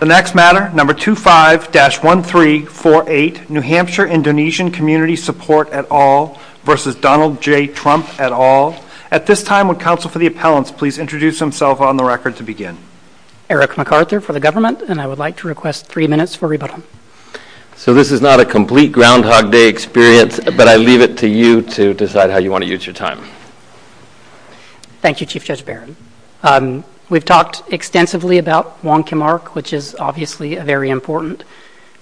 The next matter, number 25-1348, New Hampshire Indonesian Community Support et al. v. Donald J. Trump et al. At this time, would counsel for the appellants please introduce themselves on the record to begin. Eric MacArthur for the government, and I would like to request three minutes for rebuttal. So this is not a complete Groundhog Day experience, but I leave it to you to decide how you want to use your time. Thank you, Chief Judge Barron. We've talked extensively about Wong Kim Ark, which is obviously a very important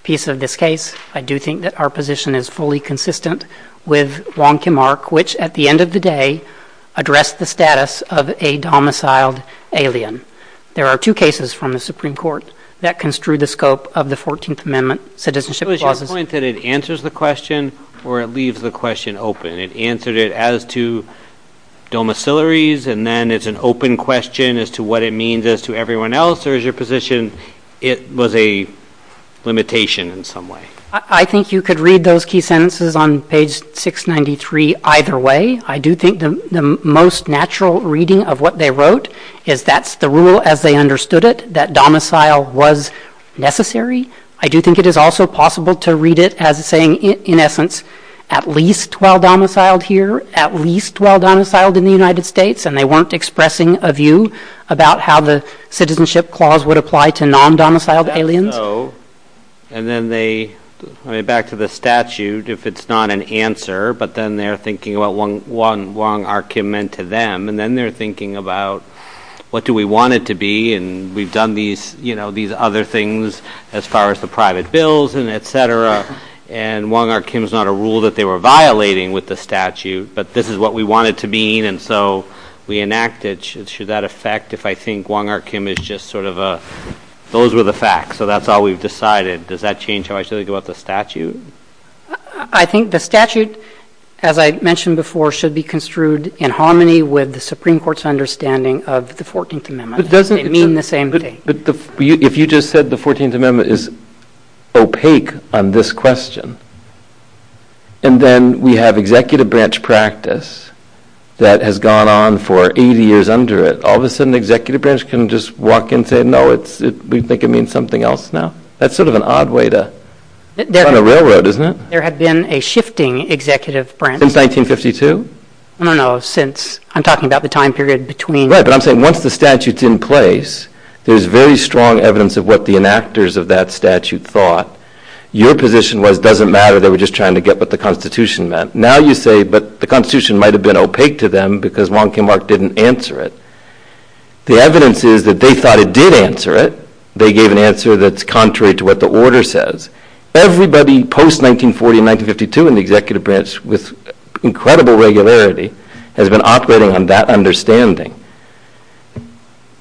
piece of this case. I do think that our position is fully consistent with Wong Kim Ark, which, at the end of the day, addressed the status of a domiciled alien. There are two cases from the Supreme Court that construe the scope of the 14th Amendment Citizenship Clause. So is your point that it answers the question or it leaves the question open? It answered it as to domicilies, and then it's an open question as to what it means as to everyone else. Or is your position it was a limitation in some way? I think you could read those key sentences on page 693 either way. I do think the most natural reading of what they wrote is that's the rule as they understood it, that domicile was necessary. I do think it is also possible to read it as saying, in essence, at least while domiciled here, at least while domiciled in the United States, and they weren't expressing a view about how the Citizenship Clause would apply to non-domiciled aliens. That's so, and then they, I mean, back to the statute, if it's not an answer, but then they're thinking about what Wong Kim Ark meant to them, and then they're thinking about what do we want it to be, and we've done these other things as far as the private bills and et cetera, and Wong Kim Ark is not a rule that they were violating with the statute, but this is what we want it to mean, and so we enact it. Should that affect if I think Wong Kim Ark is just sort of a, those were the facts, so that's all we've decided. Does that change how I should think about the statute? I think the statute, as I mentioned before, should be construed in harmony with the Supreme Court's understanding of the 14th Amendment. It doesn't mean the same thing. But if you just said the 14th Amendment is opaque on this question, and then we have executive branch practice that has gone on for 80 years under it, all of a sudden the executive branch can just walk in and say, no, we think it means something else now. That's sort of an odd way to run a railroad, isn't it? There had been a shifting executive branch. Since 1952? I don't know, since, I'm talking about the time period between. Right, but I'm saying once the statute's in place, there's very strong evidence of what the enactors of that statute thought. Your position was it doesn't matter, they were just trying to get what the Constitution meant. Now you say, but the Constitution might have been opaque to them because Wong Kim Ark didn't answer it. The evidence is that they thought it did answer it. They gave an answer that's contrary to what the order says. Everybody post-1940 and 1952 in the executive branch, with incredible regularity, has been operating on that understanding.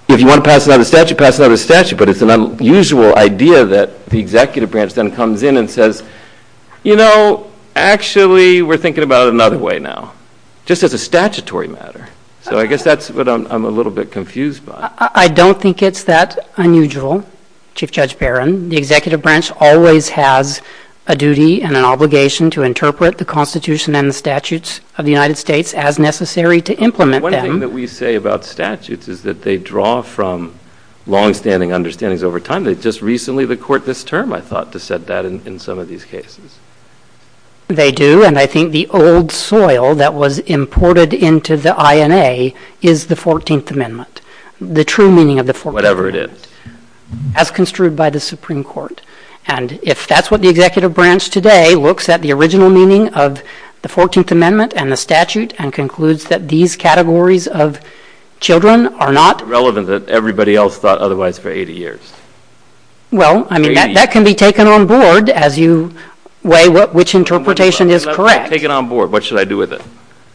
If you want to pass another statute, pass another statute, but it's an unusual idea that the executive branch then comes in and says, you know, actually we're thinking about it another way now, just as a statutory matter. So I guess that's what I'm a little bit confused by. I don't think it's that unusual, Chief Judge Barron. The executive branch always has a duty and an obligation to interpret the Constitution and the statutes of the United States as necessary to implement them. One thing that we say about statutes is that they draw from longstanding understandings over time. They just recently, the court this term, I thought, just said that in some of these cases. They do, and I think the old soil that was imported into the INA is the 14th Amendment, the true meaning of the 14th Amendment. Whatever it is. As construed by the Supreme Court. And if that's what the executive branch today looks at, the original meaning of the 14th Amendment and the statute, and concludes that these categories of children are not. Relevant that everybody else thought otherwise for 80 years. Well, I mean, that can be taken on board as you weigh which interpretation is correct. If I take it on board, what should I do with it?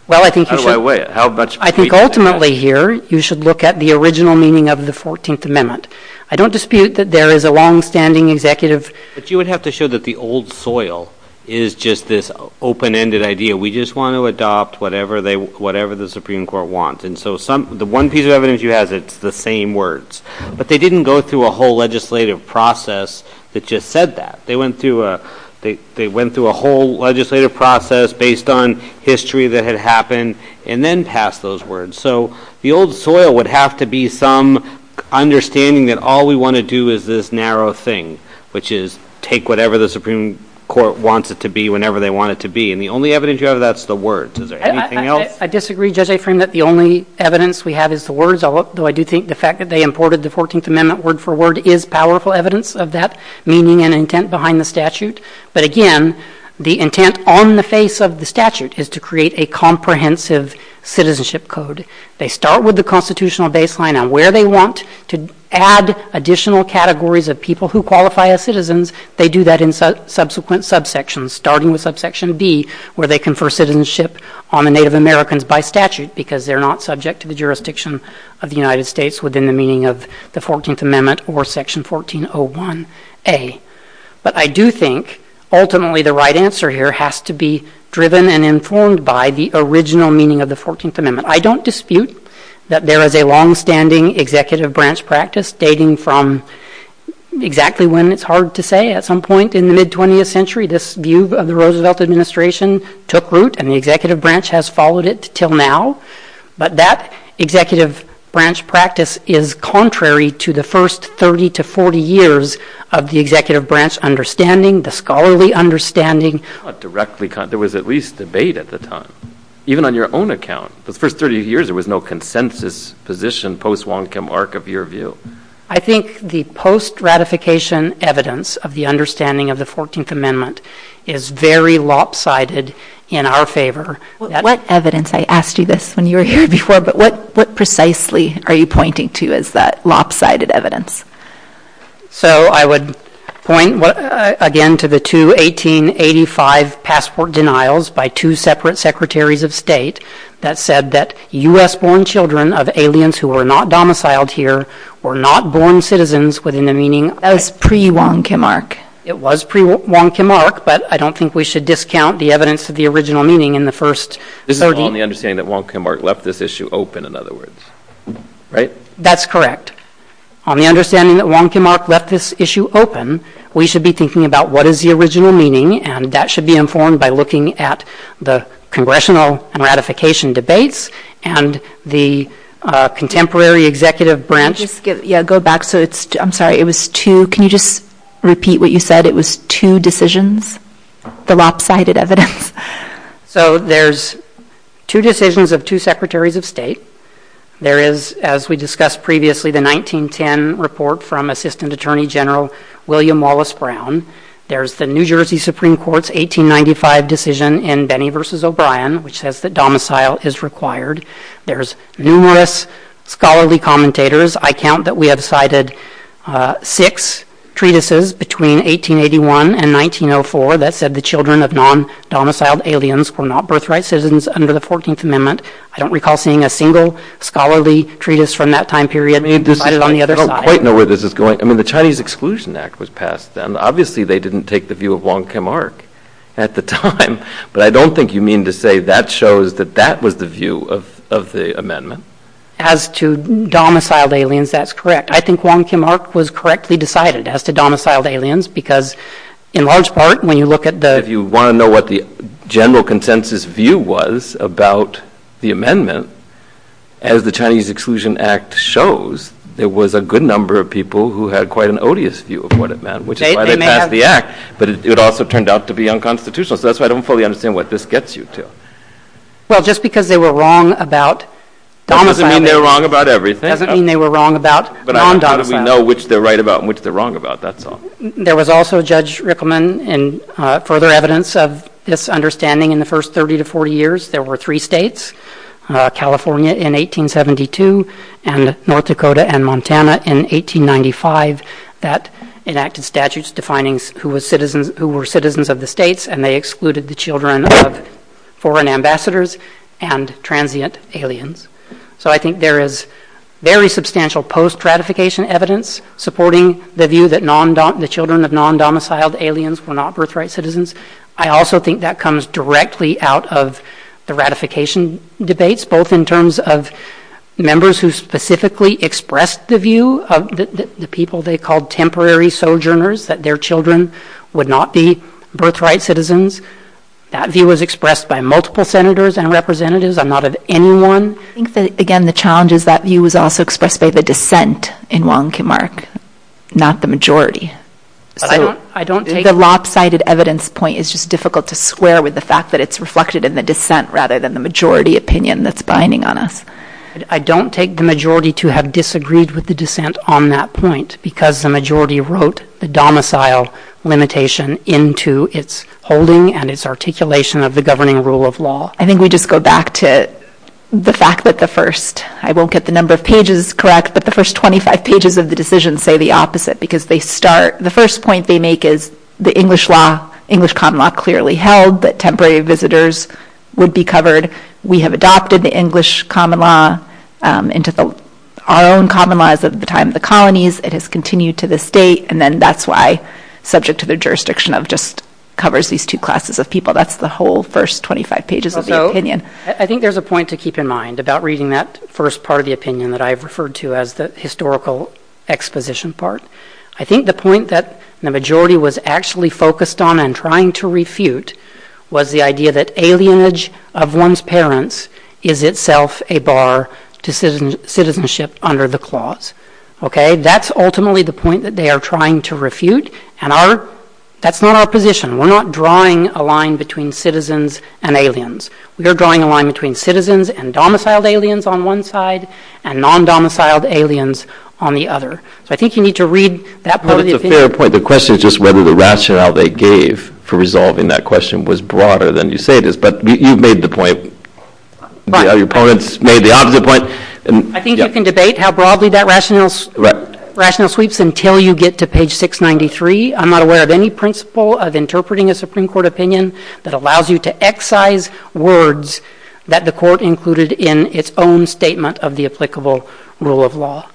Well, I think you should. How do I weigh it? I think ultimately here, you should look at the original meaning of the 14th Amendment. I don't dispute that there is a longstanding executive. But you would have to show that the old soil is just this open-ended idea. We just want to adopt whatever the Supreme Court wants. And so the one piece of evidence you have is the same words. But they didn't go through a whole legislative process that just said that. They went through a whole legislative process based on history that had happened and then passed those words. So the old soil would have to be some understanding that all we want to do is this narrow thing, which is take whatever the Supreme Court wants it to be whenever they want it to be. And the only evidence you have of that is the words. Is there anything else? I disagree. I think the only evidence we have is the words, although I do think the fact that they imported the 14th Amendment word for word is powerful evidence of that meaning and intent behind the statute. But again, the intent on the face of the statute is to create a comprehensive citizenship code. They start with the constitutional baseline on where they want to add additional categories of people who qualify as citizens. They do that in subsequent subsections, starting with subsection B, where they confer citizenship on the Native Americans by statute because they're not subject to the jurisdiction of the United States within the meaning of the 14th Amendment or section 1401A. But I do think ultimately the right answer here has to be driven and informed by the original meaning of the 14th Amendment. I don't dispute that there is a longstanding executive branch practice, dating from exactly when it's hard to say, at some point in the mid-20th century. This view of the Roosevelt administration took root, and the executive branch has followed it until now. But that executive branch practice is contrary to the first 30 to 40 years of the executive branch understanding, the scholarly understanding. Not directly contrary. There was at least debate at the time, even on your own account. Those first 30 years, there was no consensus position post-Wong Kim arc of your view. I think the post-ratification evidence of the understanding of the 14th Amendment is very lopsided in our favor. What evidence? I asked you this when you were here before, but what precisely are you pointing to as that lopsided evidence? So I would point again to the two 1885 passport denials by two separate secretaries of state that said that U.S.-born children of aliens who were not domiciled here were not born citizens within the meaning of pre-Wong Kim arc. It was pre-Wong Kim arc, but I don't think we should discount the evidence of the original meaning in the first 30 years. This is on the understanding that Wong Kim arc left this issue open, in other words, right? That's correct. On the understanding that Wong Kim arc left this issue open, we should be thinking about what is the original meaning, and that should be informed by looking at the congressional ratification debates and the contemporary executive branch. Yeah, go back. I'm sorry. Can you just repeat what you said? It was two decisions, the lopsided evidence. So there's two decisions of two secretaries of state. There is, as we discussed previously, the 1910 report from Assistant Attorney General William Wallace Brown. There's the New Jersey Supreme Court's 1895 decision in Benny v. O'Brien, which says that domicile is required. There's numerous scholarly commentators. I count that we have cited six treatises between 1881 and 1904 that said the children of non-domiciled aliens were not birthright citizens under the 14th Amendment. I don't recall seeing a single scholarly treatise from that time period. I don't quite know where this is going. I mean, the Chinese Exclusion Act was passed then. Obviously, they didn't take the view of Wong Kim Ark at the time, but I don't think you mean to say that shows that that was the view of the amendment. As to domiciled aliens, that's correct. I think Wong Kim Ark was correctly decided as to domiciled aliens because in large part when you look at the— If you want to know what the general consensus view was about the amendment, as the Chinese Exclusion Act shows, there was a good number of people who had quite an odious view of what it meant, which is why they passed the act. But it also turned out to be unconstitutional, so that's why I don't fully understand what this gets you to. Well, just because they were wrong about domiciled— Doesn't mean they were wrong about everything. Doesn't mean they were wrong about non-domiciled. But how do we know which they're right about and which they're wrong about? That's all. There was also, Judge Rickleman, in further evidence of this understanding in the first 30 to 40 years, there were three states, California in 1872 and North Dakota and Montana in 1895, that enacted statutes defining who were citizens of the states and they excluded the children of foreign ambassadors and transient aliens. So I think there is very substantial post-ratification evidence supporting the view that the children of non-domiciled aliens were not birthright citizens. I also think that comes directly out of the ratification debates, both in terms of members who specifically expressed the view of the people they called temporary sojourners, that their children would not be birthright citizens. That view was expressed by multiple senators and representatives. I'm not of anyone— I think that, again, the challenge is that view was also expressed by the dissent in Wong Kim Ark, not the majority. The lopsided evidence point is just difficult to square with the fact that it's reflected in the dissent rather than the majority opinion that's binding on us. I don't take the majority to have disagreed with the dissent on that point because the majority wrote the domicile limitation into its holding and its articulation of the governing rule of law. I think we just go back to the fact that the first— I won't get the number of pages correct, but the first 25 pages of the decision say the opposite because they start—the first point they make is the English law, English common law clearly held that temporary visitors would be covered. We have adopted the English common law into our own common laws at the time of the colonies. It has continued to this date, and then that's why, subject to the jurisdiction of, just covers these two classes of people. That's the whole first 25 pages of the opinion. So, I think there's a point to keep in mind about reading that first part of the opinion that I've referred to as the historical exposition part. I think the point that the majority was actually focused on and trying to refute was the idea that alienage of one's parents is itself a bar to citizenship under the clause. Okay? That's ultimately the point that they are trying to refute, and that's not our position. We're not drawing a line between citizens and aliens. We are drawing a line between citizens and domiciled aliens on one side and non-domiciled aliens on the other. So, I think you need to read that part of the opinion. But it's a fair point. The question is just whether the rationale they gave for resolving that question was broader than you say it is. But you've made the point. Your opponents made the opposite point. I think you can debate how broadly that rationale sweeps until you get to page 693. I'm not aware of any principle of interpreting a Supreme Court opinion that allows you to excise words that the Court included in its own statement of the applicable rule of law.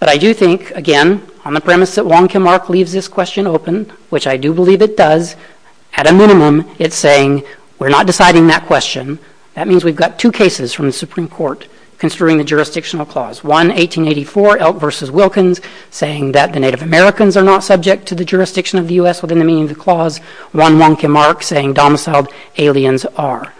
But I do think, again, on the premise that Wong Kim Ark leaves this question open, which I do believe it does, at a minimum it's saying we're not deciding that question. That means we've got two cases from the Supreme Court construing the jurisdictional clause. One, 1884, Elk v. Wilkins, saying that the Native Americans are not subject to the jurisdiction of the U.S. within the meaning of the clause. One, Wong Kim Ark, saying domiciled aliens are.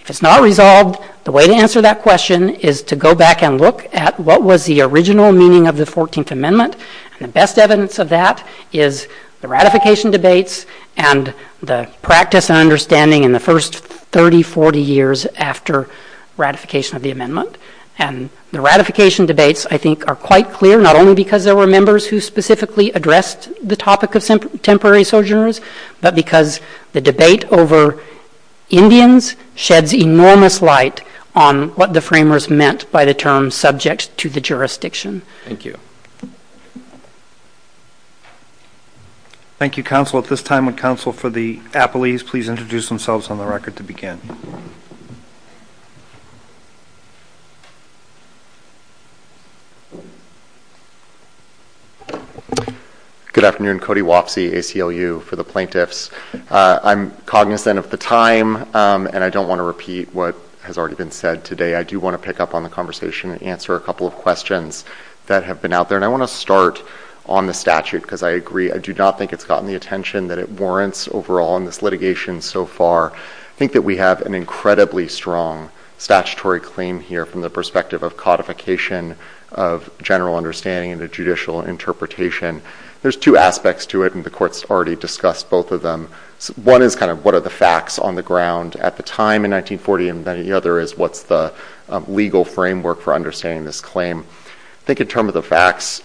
If it's not resolved, the way to answer that question is to go back and look at what was the original meaning of the 14th Amendment. And the best evidence of that is the ratification debates and the practice and understanding in the first 30, 40 years after ratification of the amendment. And the ratification debates, I think, are quite clear, not only because there were members who specifically addressed the topic of temporary sojourners, but because the debate over Indians sheds enormous light on what the framers meant by the term subject to the jurisdiction. Thank you. Thank you, counsel. At this time, would counsel for the appellees please introduce themselves on the record to begin? Good afternoon. Cody Wapsie, ACLU, for the plaintiffs. I'm cognizant of the time, and I don't want to repeat what has already been said today. I do want to pick up on the conversation and answer a couple of questions that have been out there. And I want to start on the statute, because I agree. I do not think it's gotten the attention that it warrants overall in this litigation so far. I think that we have, as I said, an incredibly strong statutory claim here from the perspective of codification of general understanding and a judicial interpretation. There's two aspects to it, and the Court's already discussed both of them. One is kind of what are the facts on the ground at the time in 1940, and then the other is what's the legal framework for understanding this claim. I think in terms of the facts,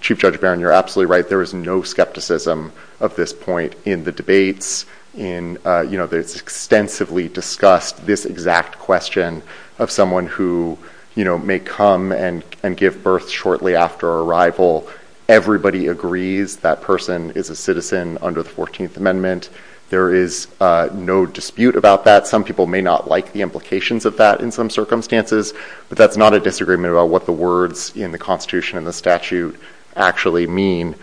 Chief Judge Barron, you're absolutely right, there is no skepticism of this point in the debates. It's extensively discussed this exact question of someone who may come and give birth shortly after arrival. Everybody agrees that person is a citizen under the 14th Amendment. There is no dispute about that. Some people may not like the implications of that in some circumstances, but that's not a disagreement about what the words in the Constitution and the statute actually mean.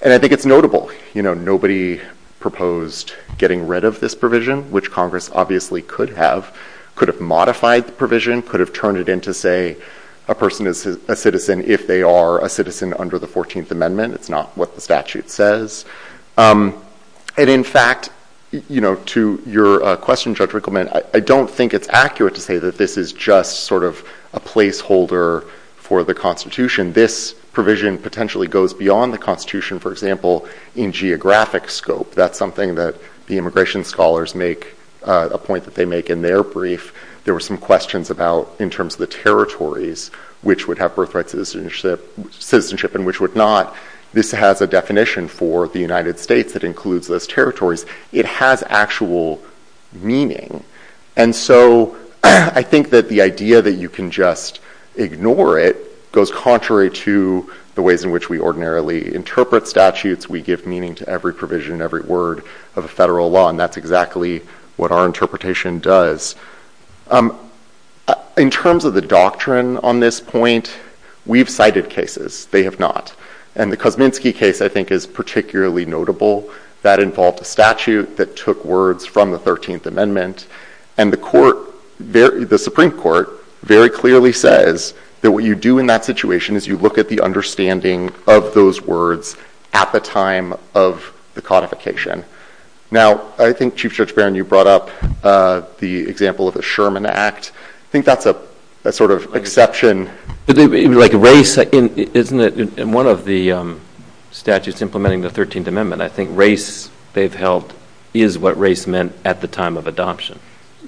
And I think it's notable. Nobody proposed getting rid of this provision, which Congress obviously could have. It could have modified the provision, could have turned it into, say, a person is a citizen if they are a citizen under the 14th Amendment. It's not what the statute says. And in fact, to your question, Judge Rickleman, I don't think it's accurate to say that this is just sort of a placeholder for the Constitution. This provision potentially goes beyond the Constitution, for example, in geographic scope. That's something that the immigration scholars make a point that they make in their brief. There were some questions in terms of the territories which would have birthright citizenship and which would not. This has a definition for the United States that includes those territories. It has actual meaning. And so I think that the idea that you can just ignore it goes contrary to the ways in which we ordinarily interpret statutes. We give meaning to every provision, every word of a federal law. And that's exactly what our interpretation does. In terms of the doctrine on this point, we've cited cases. They have not. And the Kosminski case, I think, is particularly notable. That involved a statute that took words from the 13th Amendment. And the Supreme Court very clearly says that what you do in that situation is you look at the understanding of those words at the time of the codification. Now, I think, Chief Judge Barron, you brought up the example of the Sherman Act. I think that's a sort of exception. Like race, isn't it? In one of the statutes implementing the 13th Amendment, I think race, they've held, is what race meant at the time of adoption.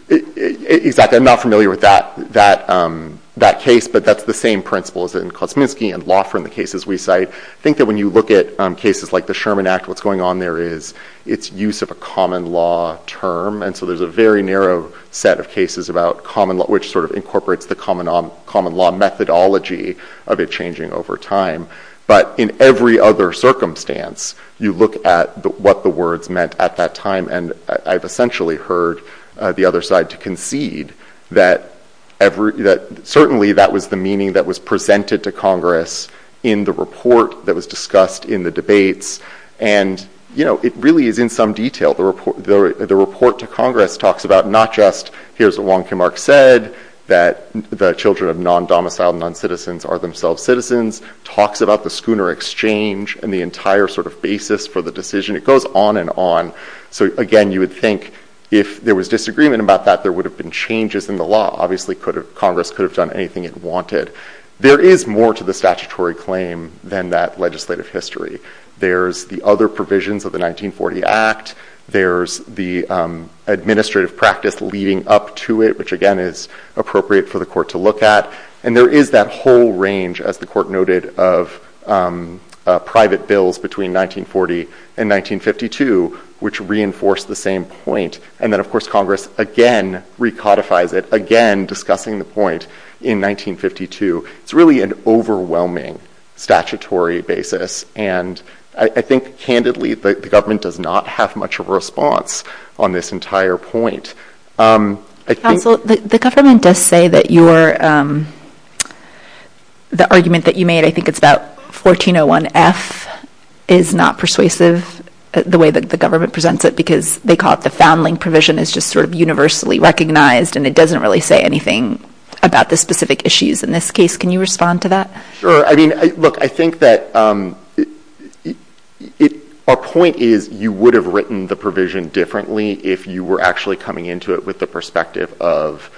Exactly. I'm not familiar with that case. But that's the same principle as in Kosminski and Loffer in the cases we cite. I think that when you look at cases like the Sherman Act, what's going on there is it's use of a common law term. And so there's a very narrow set of cases about common law, which sort of incorporates the common law methodology of it changing over time. But in every other circumstance, you look at what the words meant at that time. And I've essentially heard the other side to concede that certainly that was the meaning that was presented to Congress in the report that was discussed in the debates. And it really is in some detail. The report to Congress talks about not just, here's what Wong Kim Ark said, that the children of non-domiciled, non-citizens are themselves citizens, talks about the schooner exchange and the entire sort of basis for the decision. It goes on and on. So again, you would think if there was disagreement about that, there would have been changes in the law. Obviously, Congress could have done anything it wanted. There is more to the statutory claim than that legislative history. There's the other provisions of the 1940 Act. There's the administrative practice leading up to it, which again is appropriate for the court to look at. And there is that whole range, as the court noted, of private bills between 1940 and 1952, which reinforce the same point. And then, of course, Congress again recodifies it, again discussing the point in 1952. It's really an overwhelming statutory basis. And I think, candidly, the government does not have much of a response on this entire point. I think- The government does say that the argument that you made, I think it's about 1401F, is not persuasive, the way that the government presents it, because they call it the foundling provision. It's just sort of universally recognized, and it doesn't really say anything about the specific issues in this case. Can you respond to that? Look, I think that our point is you would have written the provision differently if you were actually coming into it with the perspective of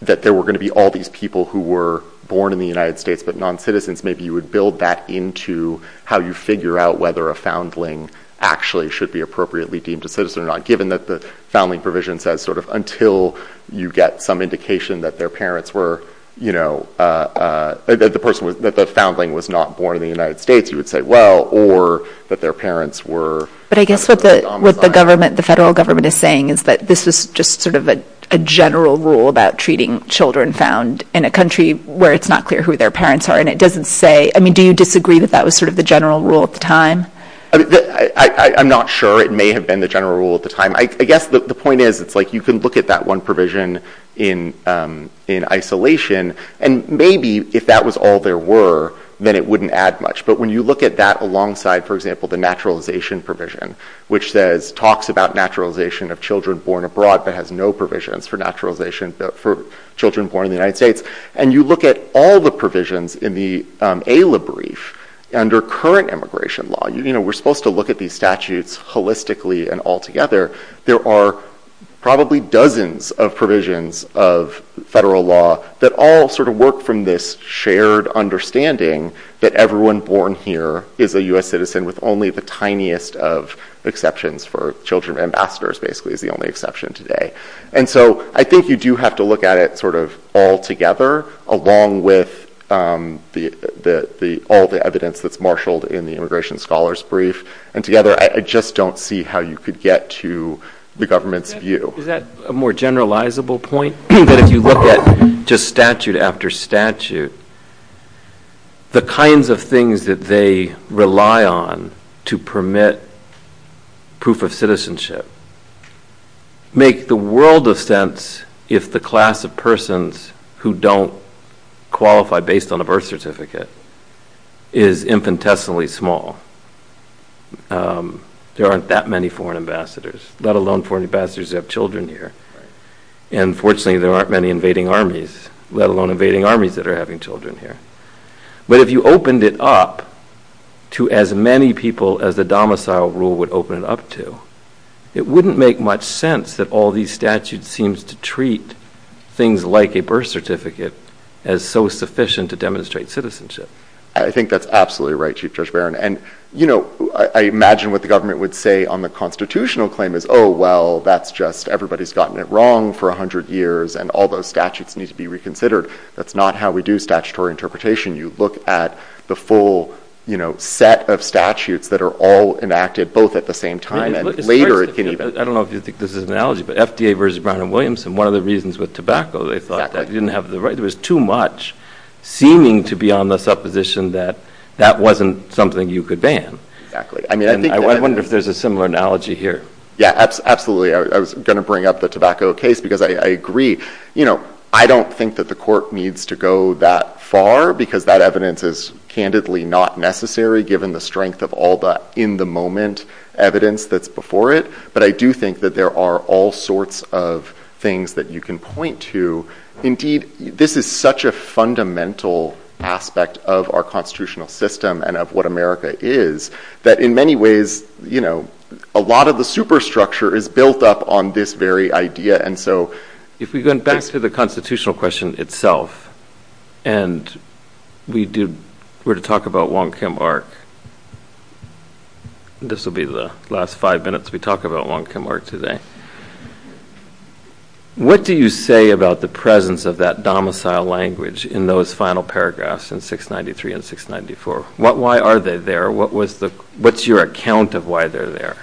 that there were going to be all these people who were born in the United States, but non-citizens. Maybe you would build that into how you figure out whether a foundling actually should be appropriately deemed a citizen or not, given that the foundling provision says until you get some indication that their parents were, you know, that the person was, that the foundling was not born in the United States, you would say, well, or that their parents were- But I guess what the government, the federal government is saying is that this is just sort of a general rule about treating children found in a country where it's not clear who their parents are. And it doesn't say, I mean, do you disagree that that was sort of the general rule at the time? I'm not sure it may have been the general rule at the time. I guess the point is it's like you can look at that one provision in isolation, and maybe if that was all there were, then it wouldn't add much. But when you look at that alongside, for example, the naturalization provision, which says talks about naturalization of children born abroad, but has no provisions for naturalization for children born in the United States, and you look at all the provisions in the ALA brief under current immigration law, we're supposed to look at these statutes holistically and all together. There are probably dozens of provisions of federal law that all sort of work from this shared understanding that everyone born here is a US citizen with only the tiniest of exceptions for children. Ambassadors, basically, is the only exception today. And so I think you do have to look at it sort of all together, along with all the evidence that's marshaled in the immigration scholars brief. And together, I just don't see how you could get to the government's view. Is that a more generalizable point, that if you look at just statute after statute, the kinds of things that they rely on to permit proof of citizenship make the world of sense if the class of persons who don't qualify based on a birth certificate is infinitesimally small. There aren't that many foreign ambassadors, let alone foreign ambassadors who have children here. And fortunately, there aren't many invading armies, let alone invading armies that are having children here. But if you opened it up to as many people as the domicile rule would open it up to, it wouldn't make much sense that all these statutes seems to treat things like a birth certificate as so sufficient to demonstrate citizenship. I think that's absolutely right, Chief Judge Barron. And I imagine what the government would say on the constitutional claim is, oh, well, that's just everybody's gotten it wrong for 100 years, and all those statutes need to be reconsidered. That's not how we do statutory interpretation. You look at the full set of statutes that are all enacted both at the same time, and later it can even. I don't know if you think this is an analogy, but FDA versus Brown and Williamson, one of the reasons with tobacco, they thought that didn't have the right, there was too much seeming to be on the supposition that that wasn't something you could ban. I wonder if there's a similar analogy here. Yeah, absolutely. I was going to bring up the tobacco case, because I agree. I don't think that the court needs to go that far, because that evidence is candidly not necessary, given the strength of all the in-the-moment evidence that's before it. But I do think that there are all sorts of things that you can point to. Indeed, this is such a fundamental aspect of our constitutional system, and of what America is, that in many ways, a lot of the superstructure is built up on this very idea. And so if we go back to the constitutional question itself, and we were to talk about Wong Kim Ark, this will be the last five minutes we talk about Wong Kim Ark today. What do you say about the presence of that domicile language in those final paragraphs in 693 and 694? Why are they there? What's your account of why they're there?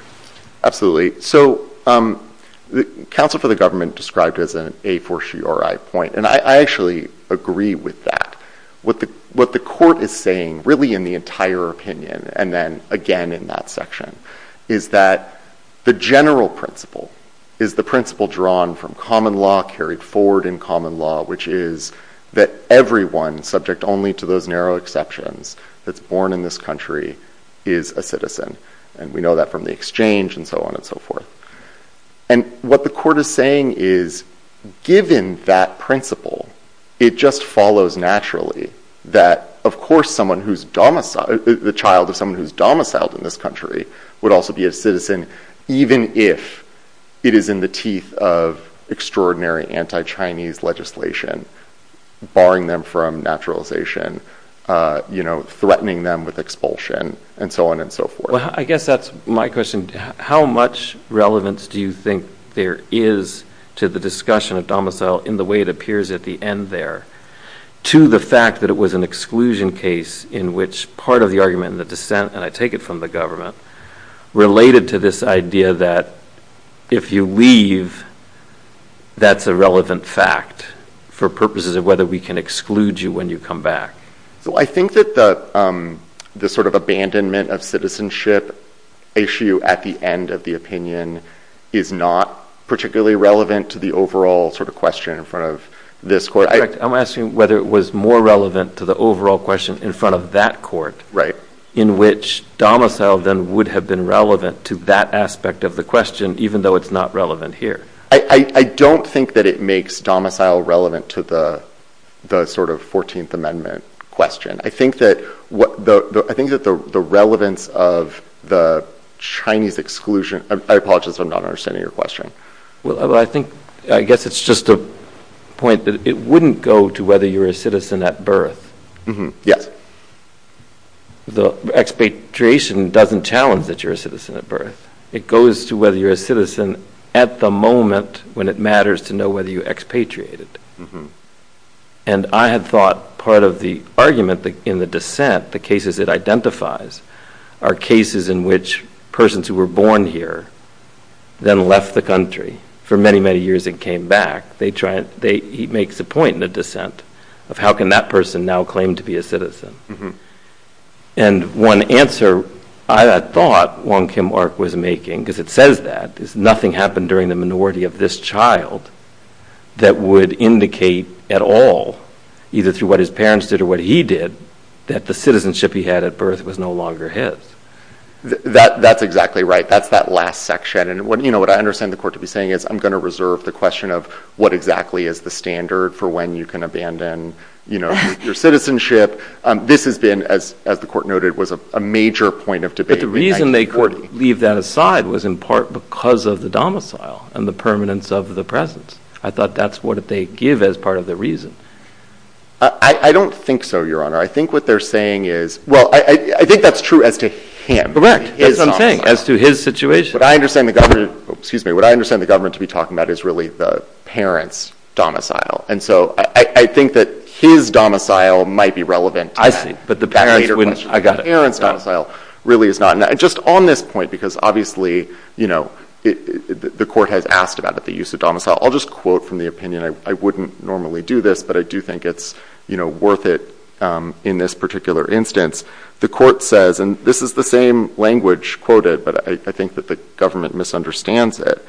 Absolutely. So the counsel for the government described it as an a for she or I point. And I actually agree with that. What the court is saying, really in the entire opinion, and then again in that section, is that the general principle is the principle drawn from common law, carried forward in common law, which is that everyone, subject only to those narrow exceptions, that's born in this country is a citizen. And we know that from the exchange, and so on and so forth. And what the court is saying is, given that principle, it just follows naturally that, of course, someone the child of someone who's domiciled in this country would also be a citizen, even if it is in the teeth of extraordinary anti-Chinese legislation, barring them from naturalization, threatening them with expulsion, and so on and so forth. Well, I guess that's my question. How much relevance do you think there is to the discussion of domicile in the way it appears at the end there, to the fact that it was an exclusion case in which part of the argument in the dissent, and I take it from the government, related to this idea that if you leave, that's a relevant fact for purposes of whether we can exclude you when you come back? So I think that the abandonment of citizenship issue at the end of the opinion is not particularly relevant to the overall question in front of this court. I'm asking whether it was more relevant to the overall question in front of that court, in which domicile then would have been relevant to that aspect of the question, even though it's not relevant here. I don't think that it makes domicile relevant to the 14th Amendment question. I think that the relevance of the Chinese exclusion, I apologize, I'm not understanding your question. Well, I think, I guess it's just a point that it wouldn't go to whether you're a citizen at birth. Yes. The expatriation doesn't challenge that you're a citizen at birth. It goes to whether you're a citizen at the moment when it matters to know whether you expatriated. And I had thought part of the argument in the dissent, the cases it identifies, are cases in which persons who were born here then left the country for many, many years and came back. He makes a point in the dissent of how can that person now claim to be a citizen. And one answer I had thought Wong Kim Ark was making, because it says that, is nothing happened during the minority of this child that would indicate at all, either through what his parents did or what he did, that the citizenship he had at birth was no longer his. That's exactly right. That's that last section. What I understand the court to be saying is I'm going to reserve the question of what exactly is the standard for when you can abandon your citizenship. This has been, as the court noted, was a major point of debate in 1940. But the reason they leave that aside was in part because of the domicile and the permanence of the presence. I thought that's what they give as part of the reason. I don't think so, Your Honor. I think what they're saying is, well, I think that's true as to him. Correct. That's what I'm saying, as to his situation. What I understand the government to be talking about is really the parents' domicile. And so I think that his domicile might be relevant to that. But the parents' domicile really is not. Just on this point, because obviously the court has asked about the use of domicile, I'll just quote from the opinion. I wouldn't normally do this, but I do think it's worth it in this particular instance. The court says, and this is the same language quoted, but I think that the government misunderstands it.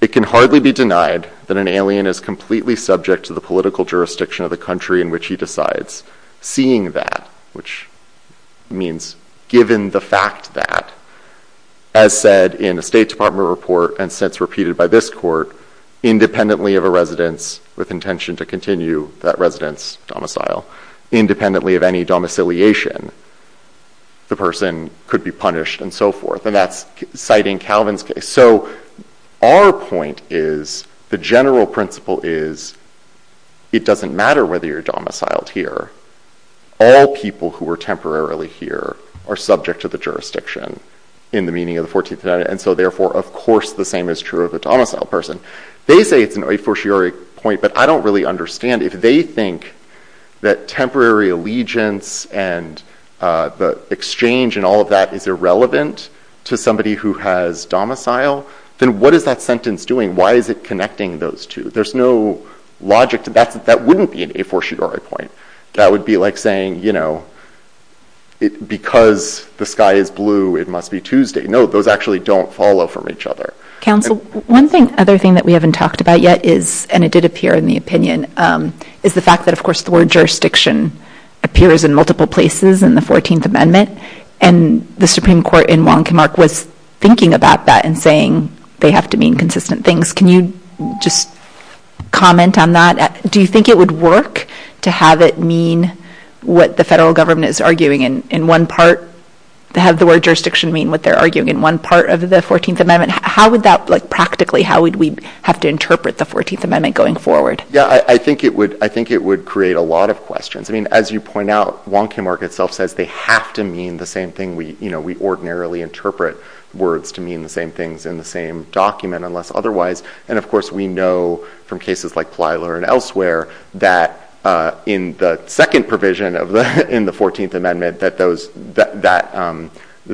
It can hardly be denied that an alien is completely subject to the political jurisdiction of the country in which he decides. Seeing that, which means given the fact that, as said in a State Department report and since repeated by this court, independently of a residence with intention to continue that residence domicile, independently of any domiciliation, the person could be punished and so forth. And that's citing Calvin's case. So our point is, the general principle is it doesn't matter whether you're domiciled here. All people who are temporarily here are subject to the jurisdiction in the meaning of the 14th Amendment. And so therefore, of course, the same is true of a domiciled person. They say it's an officiary point, but I don't really understand. If they think that temporary allegiance and the exchange and all of that is irrelevant to somebody who has domicile, then what is that sentence doing? Why is it connecting those two? There's no logic to that. That wouldn't be an officiatory point. That would be like saying, because the sky is blue, it must be Tuesday. No, those actually don't follow from each other. Counsel, one other thing that we haven't talked about yet is, and it did appear in the opinion, is the fact that, of course, the word jurisdiction appears in multiple places in the 14th Amendment. And the Supreme Court in Wong Kim Ark was thinking about that and saying they have to mean consistent things. Can you just comment on that? Do you think it would work to have it mean what the federal government is arguing in one part, to have the word jurisdiction mean what they're arguing in one part of the 14th Amendment? How would that, practically, how would we have to interpret the 14th Amendment going forward? Yeah, I think it would create a lot of questions. I mean, as you point out, Wong Kim Ark itself says they have to mean the same thing. We ordinarily interpret words to mean the same things in the same document, unless otherwise. And of course, we know from cases like Plyler and elsewhere that in the second provision in the 14th Amendment that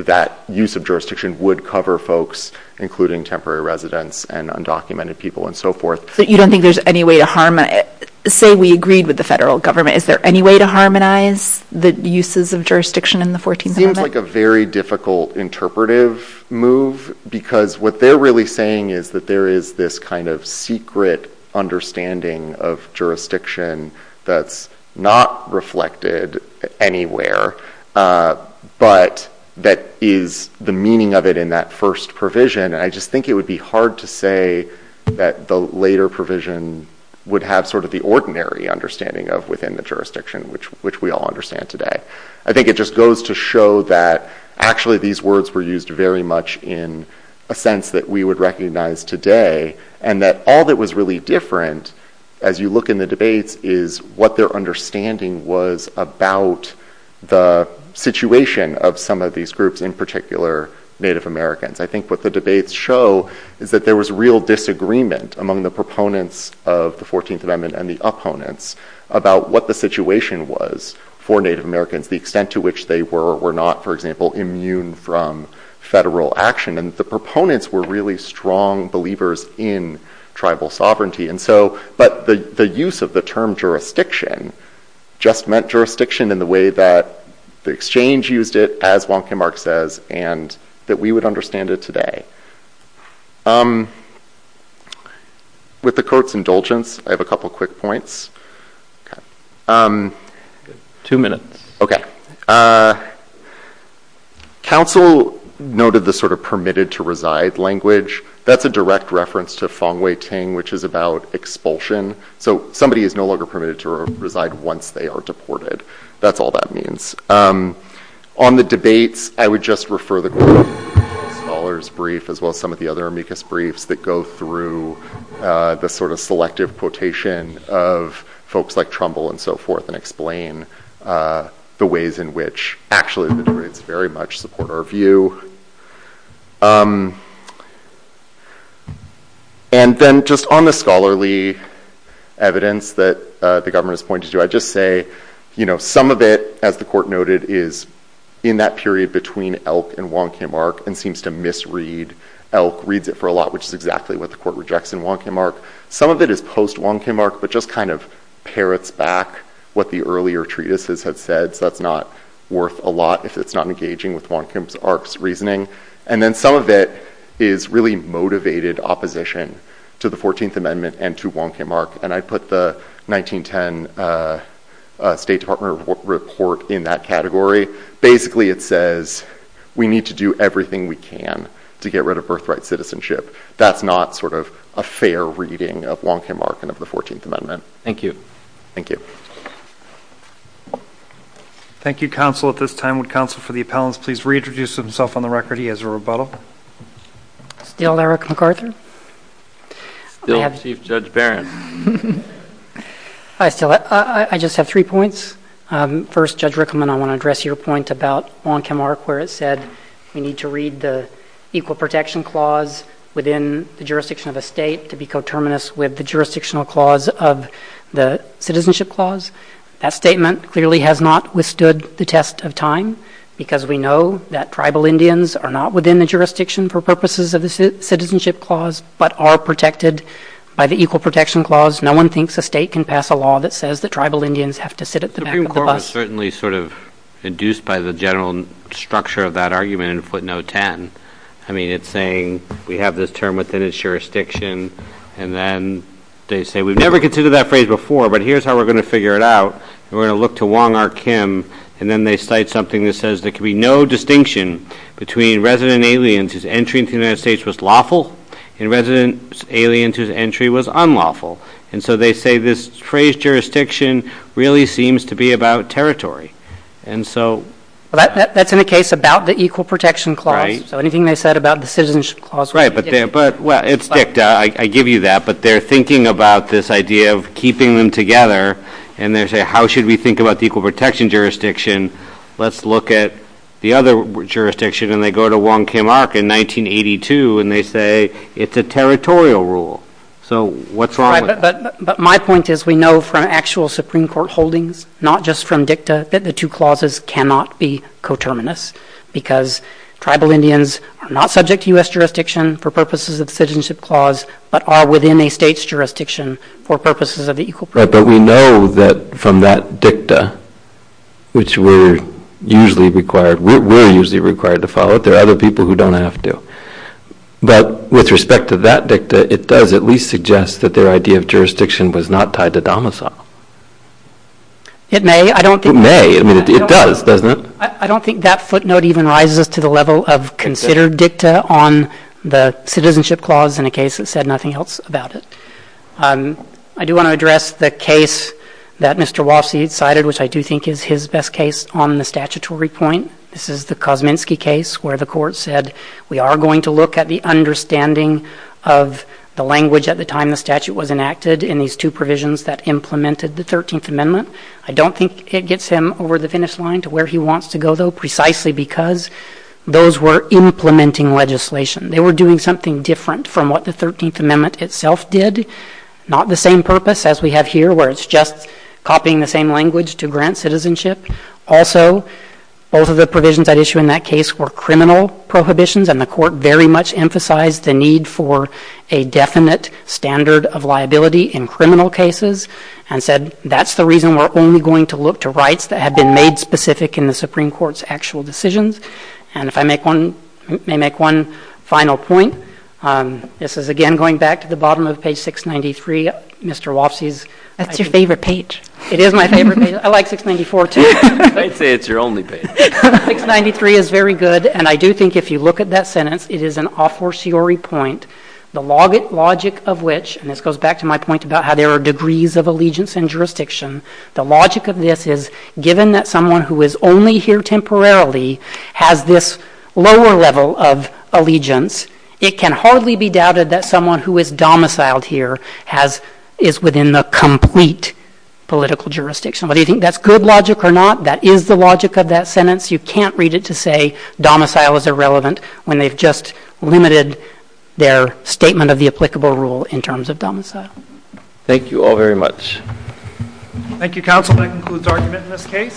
that use of jurisdiction would cover folks, including temporary residents and undocumented people and so forth. So you don't think there's any way to harmonize? Say we agreed with the federal government. Is there any way to harmonize the uses of jurisdiction in the 14th Amendment? It seems like a very difficult interpretive move, because what they're really saying is that there is this kind of secret understanding of jurisdiction that's not reflected anywhere, but that is the meaning of it in that first provision. And I just think it would be hard to say that the later provision would have sort of the ordinary understanding of within the jurisdiction, which we all understand today. I think it just goes to show that, actually, these words were used very much in a sense that we would recognize today, and that all that was really different, as you look in the debates, is what their understanding was about the situation of some of these groups, in particular, Native Americans. I think what the debates show is that there was real disagreement among the proponents of the 14th Amendment and the opponents about what the situation was for Native Americans, the extent to which they were or were not, for example, immune from federal action. And the proponents were really strong believers in tribal sovereignty. But the use of the term jurisdiction just meant jurisdiction in the way that the exchange used it, as Wong Kim Ark says, and that we would understand it today. With the court's indulgence, I have a couple quick points. Two minutes. Okay. Council noted the sort of permitted to reside language. That's a direct reference to fang wei ting, which is about expulsion. So somebody is no longer permitted to reside once they are deported. That's all that means. On the debates, I would just refer the scholars' brief, as well as some of the other amicus briefs that go through the sort of selective quotation of folks like Trumbull and so forth, and explain the ways in which, actually, the debates very much support our view. And then, just on the scholarly evidence that the government has pointed to, I'd just say, some of it, as the court noted, is in that period between Elk and Wong Kim Ark, and seems to misread Elk, reads it for a lot, which is exactly what the court rejects in Wong Kim Ark. Some of it is post-Wong Kim Ark, but just kind of parrots back what the earlier treatises had said. So that's not worth a lot if it's not engaging with Wong Kim Ark's reading. And then, some of it is really motivated opposition to the 14th Amendment and to Wong Kim Ark. And I put the 1910 State Department report in that category. Basically, it says, we need to do everything we can to get rid of birthright citizenship. That's not sort of a fair reading of Wong Kim Ark and of the 14th Amendment. Thank you. Thank you. Thank you, counsel. At this time, would counsel for the appellants please reintroduce himself on the record? He has a rebuttal. Still Eric MacArthur. Still Chief Judge Barron. I still, I just have three points. First, Judge Rickleman, I want to address your point about Wong Kim Ark, where it said, we need to read the Equal Protection Clause within the jurisdiction of a state to be coterminous with the jurisdictional clause of the Citizenship Clause. That statement clearly has not withstood the test of time, because we know that tribal Indians are not within the jurisdiction for purposes of the Citizenship Clause, but are protected by the Equal Protection Clause. No one thinks a state can pass a law that says that tribal Indians have to sit at the back of the bus. The Supreme Court was certainly sort of induced by the general structure of that argument in footnote 10. I mean, it's saying we have this term within its jurisdiction, and then they say, we've never considered that phrase before, but here's how we're going to figure it out. We're going to look to Wong Kim Ark, and then they cite something that says there can be no distinction between resident aliens whose entry into the United States was lawful, and resident aliens whose entry was unlawful. And so they say this phrase, jurisdiction, really seems to be about territory. And so- That's in the case about the Equal Protection Clause. So anything they said about the Citizenship Clause- Right, but it's ticked, I give you that, but they're thinking about this idea of keeping them together, and they say, how should we think about the Equal Protection Jurisdiction? Let's look at the other jurisdiction, and they go to Wong Kim Ark in 1982, and they say it's a territorial rule. So what's wrong with that? But my point is we know from actual Supreme Court holdings, not just from dicta, that the two clauses cannot be coterminous, because tribal Indians are not subject to US jurisdiction for purposes of the Citizenship Clause, but are within a state's jurisdiction for purposes of the Equal Protection Clause. Right, but we know that from that dicta, which we're usually required, we're usually required to follow it, there are other people who don't have to. But with respect to that dicta, it does at least suggest that their idea of jurisdiction was not tied to domicile. It may, I don't think- It may, I mean, it does, doesn't it? I don't think that footnote even rises to the level of considered dicta on the Citizenship Clause in a case that said nothing else about it. I do want to address the case that Mr. Wofsy cited, which I do think is his best case on the statutory point. This is the Kosminski case, where the court said we are going to look at the understanding of the language at the time the statute was enacted in these two provisions that implemented the 13th Amendment. I don't think it gets him over the finish line to where he wants to go, though, precisely because those were implementing legislation. They were doing something different from what the 13th Amendment itself did. Not the same purpose as we have here, where it's just copying the same language to grant citizenship. Also, both of the provisions at issue in that case were criminal prohibitions, and the court very much emphasized the need for a definite standard of liability in criminal cases, and said that's the reason we're only going to look to rights that have been made specific in the Supreme Court's actual decisions. And if I may make one final point, this is, again, going back to the bottom of page 693, Mr. Wofsy's. That's your favorite page. It is my favorite page. I like 694, too. I'd say it's your only page. 693 is very good, and I do think if you look at that sentence, it is an a fortiori point. The logic of which, and this goes back to my point about how there are degrees of allegiance and jurisdiction, the logic of this is, given that someone who is only here temporarily has this lower level of allegiance, it can hardly be doubted that someone who is domiciled here is within the complete political jurisdiction. Whether you think that's good logic or not, that is the logic of that sentence. You can't read it to say domicile is irrelevant when they've just limited their statement of the applicable rule in terms of domicile. Thank you all very much. Thank you, counsel. That concludes argument in this case.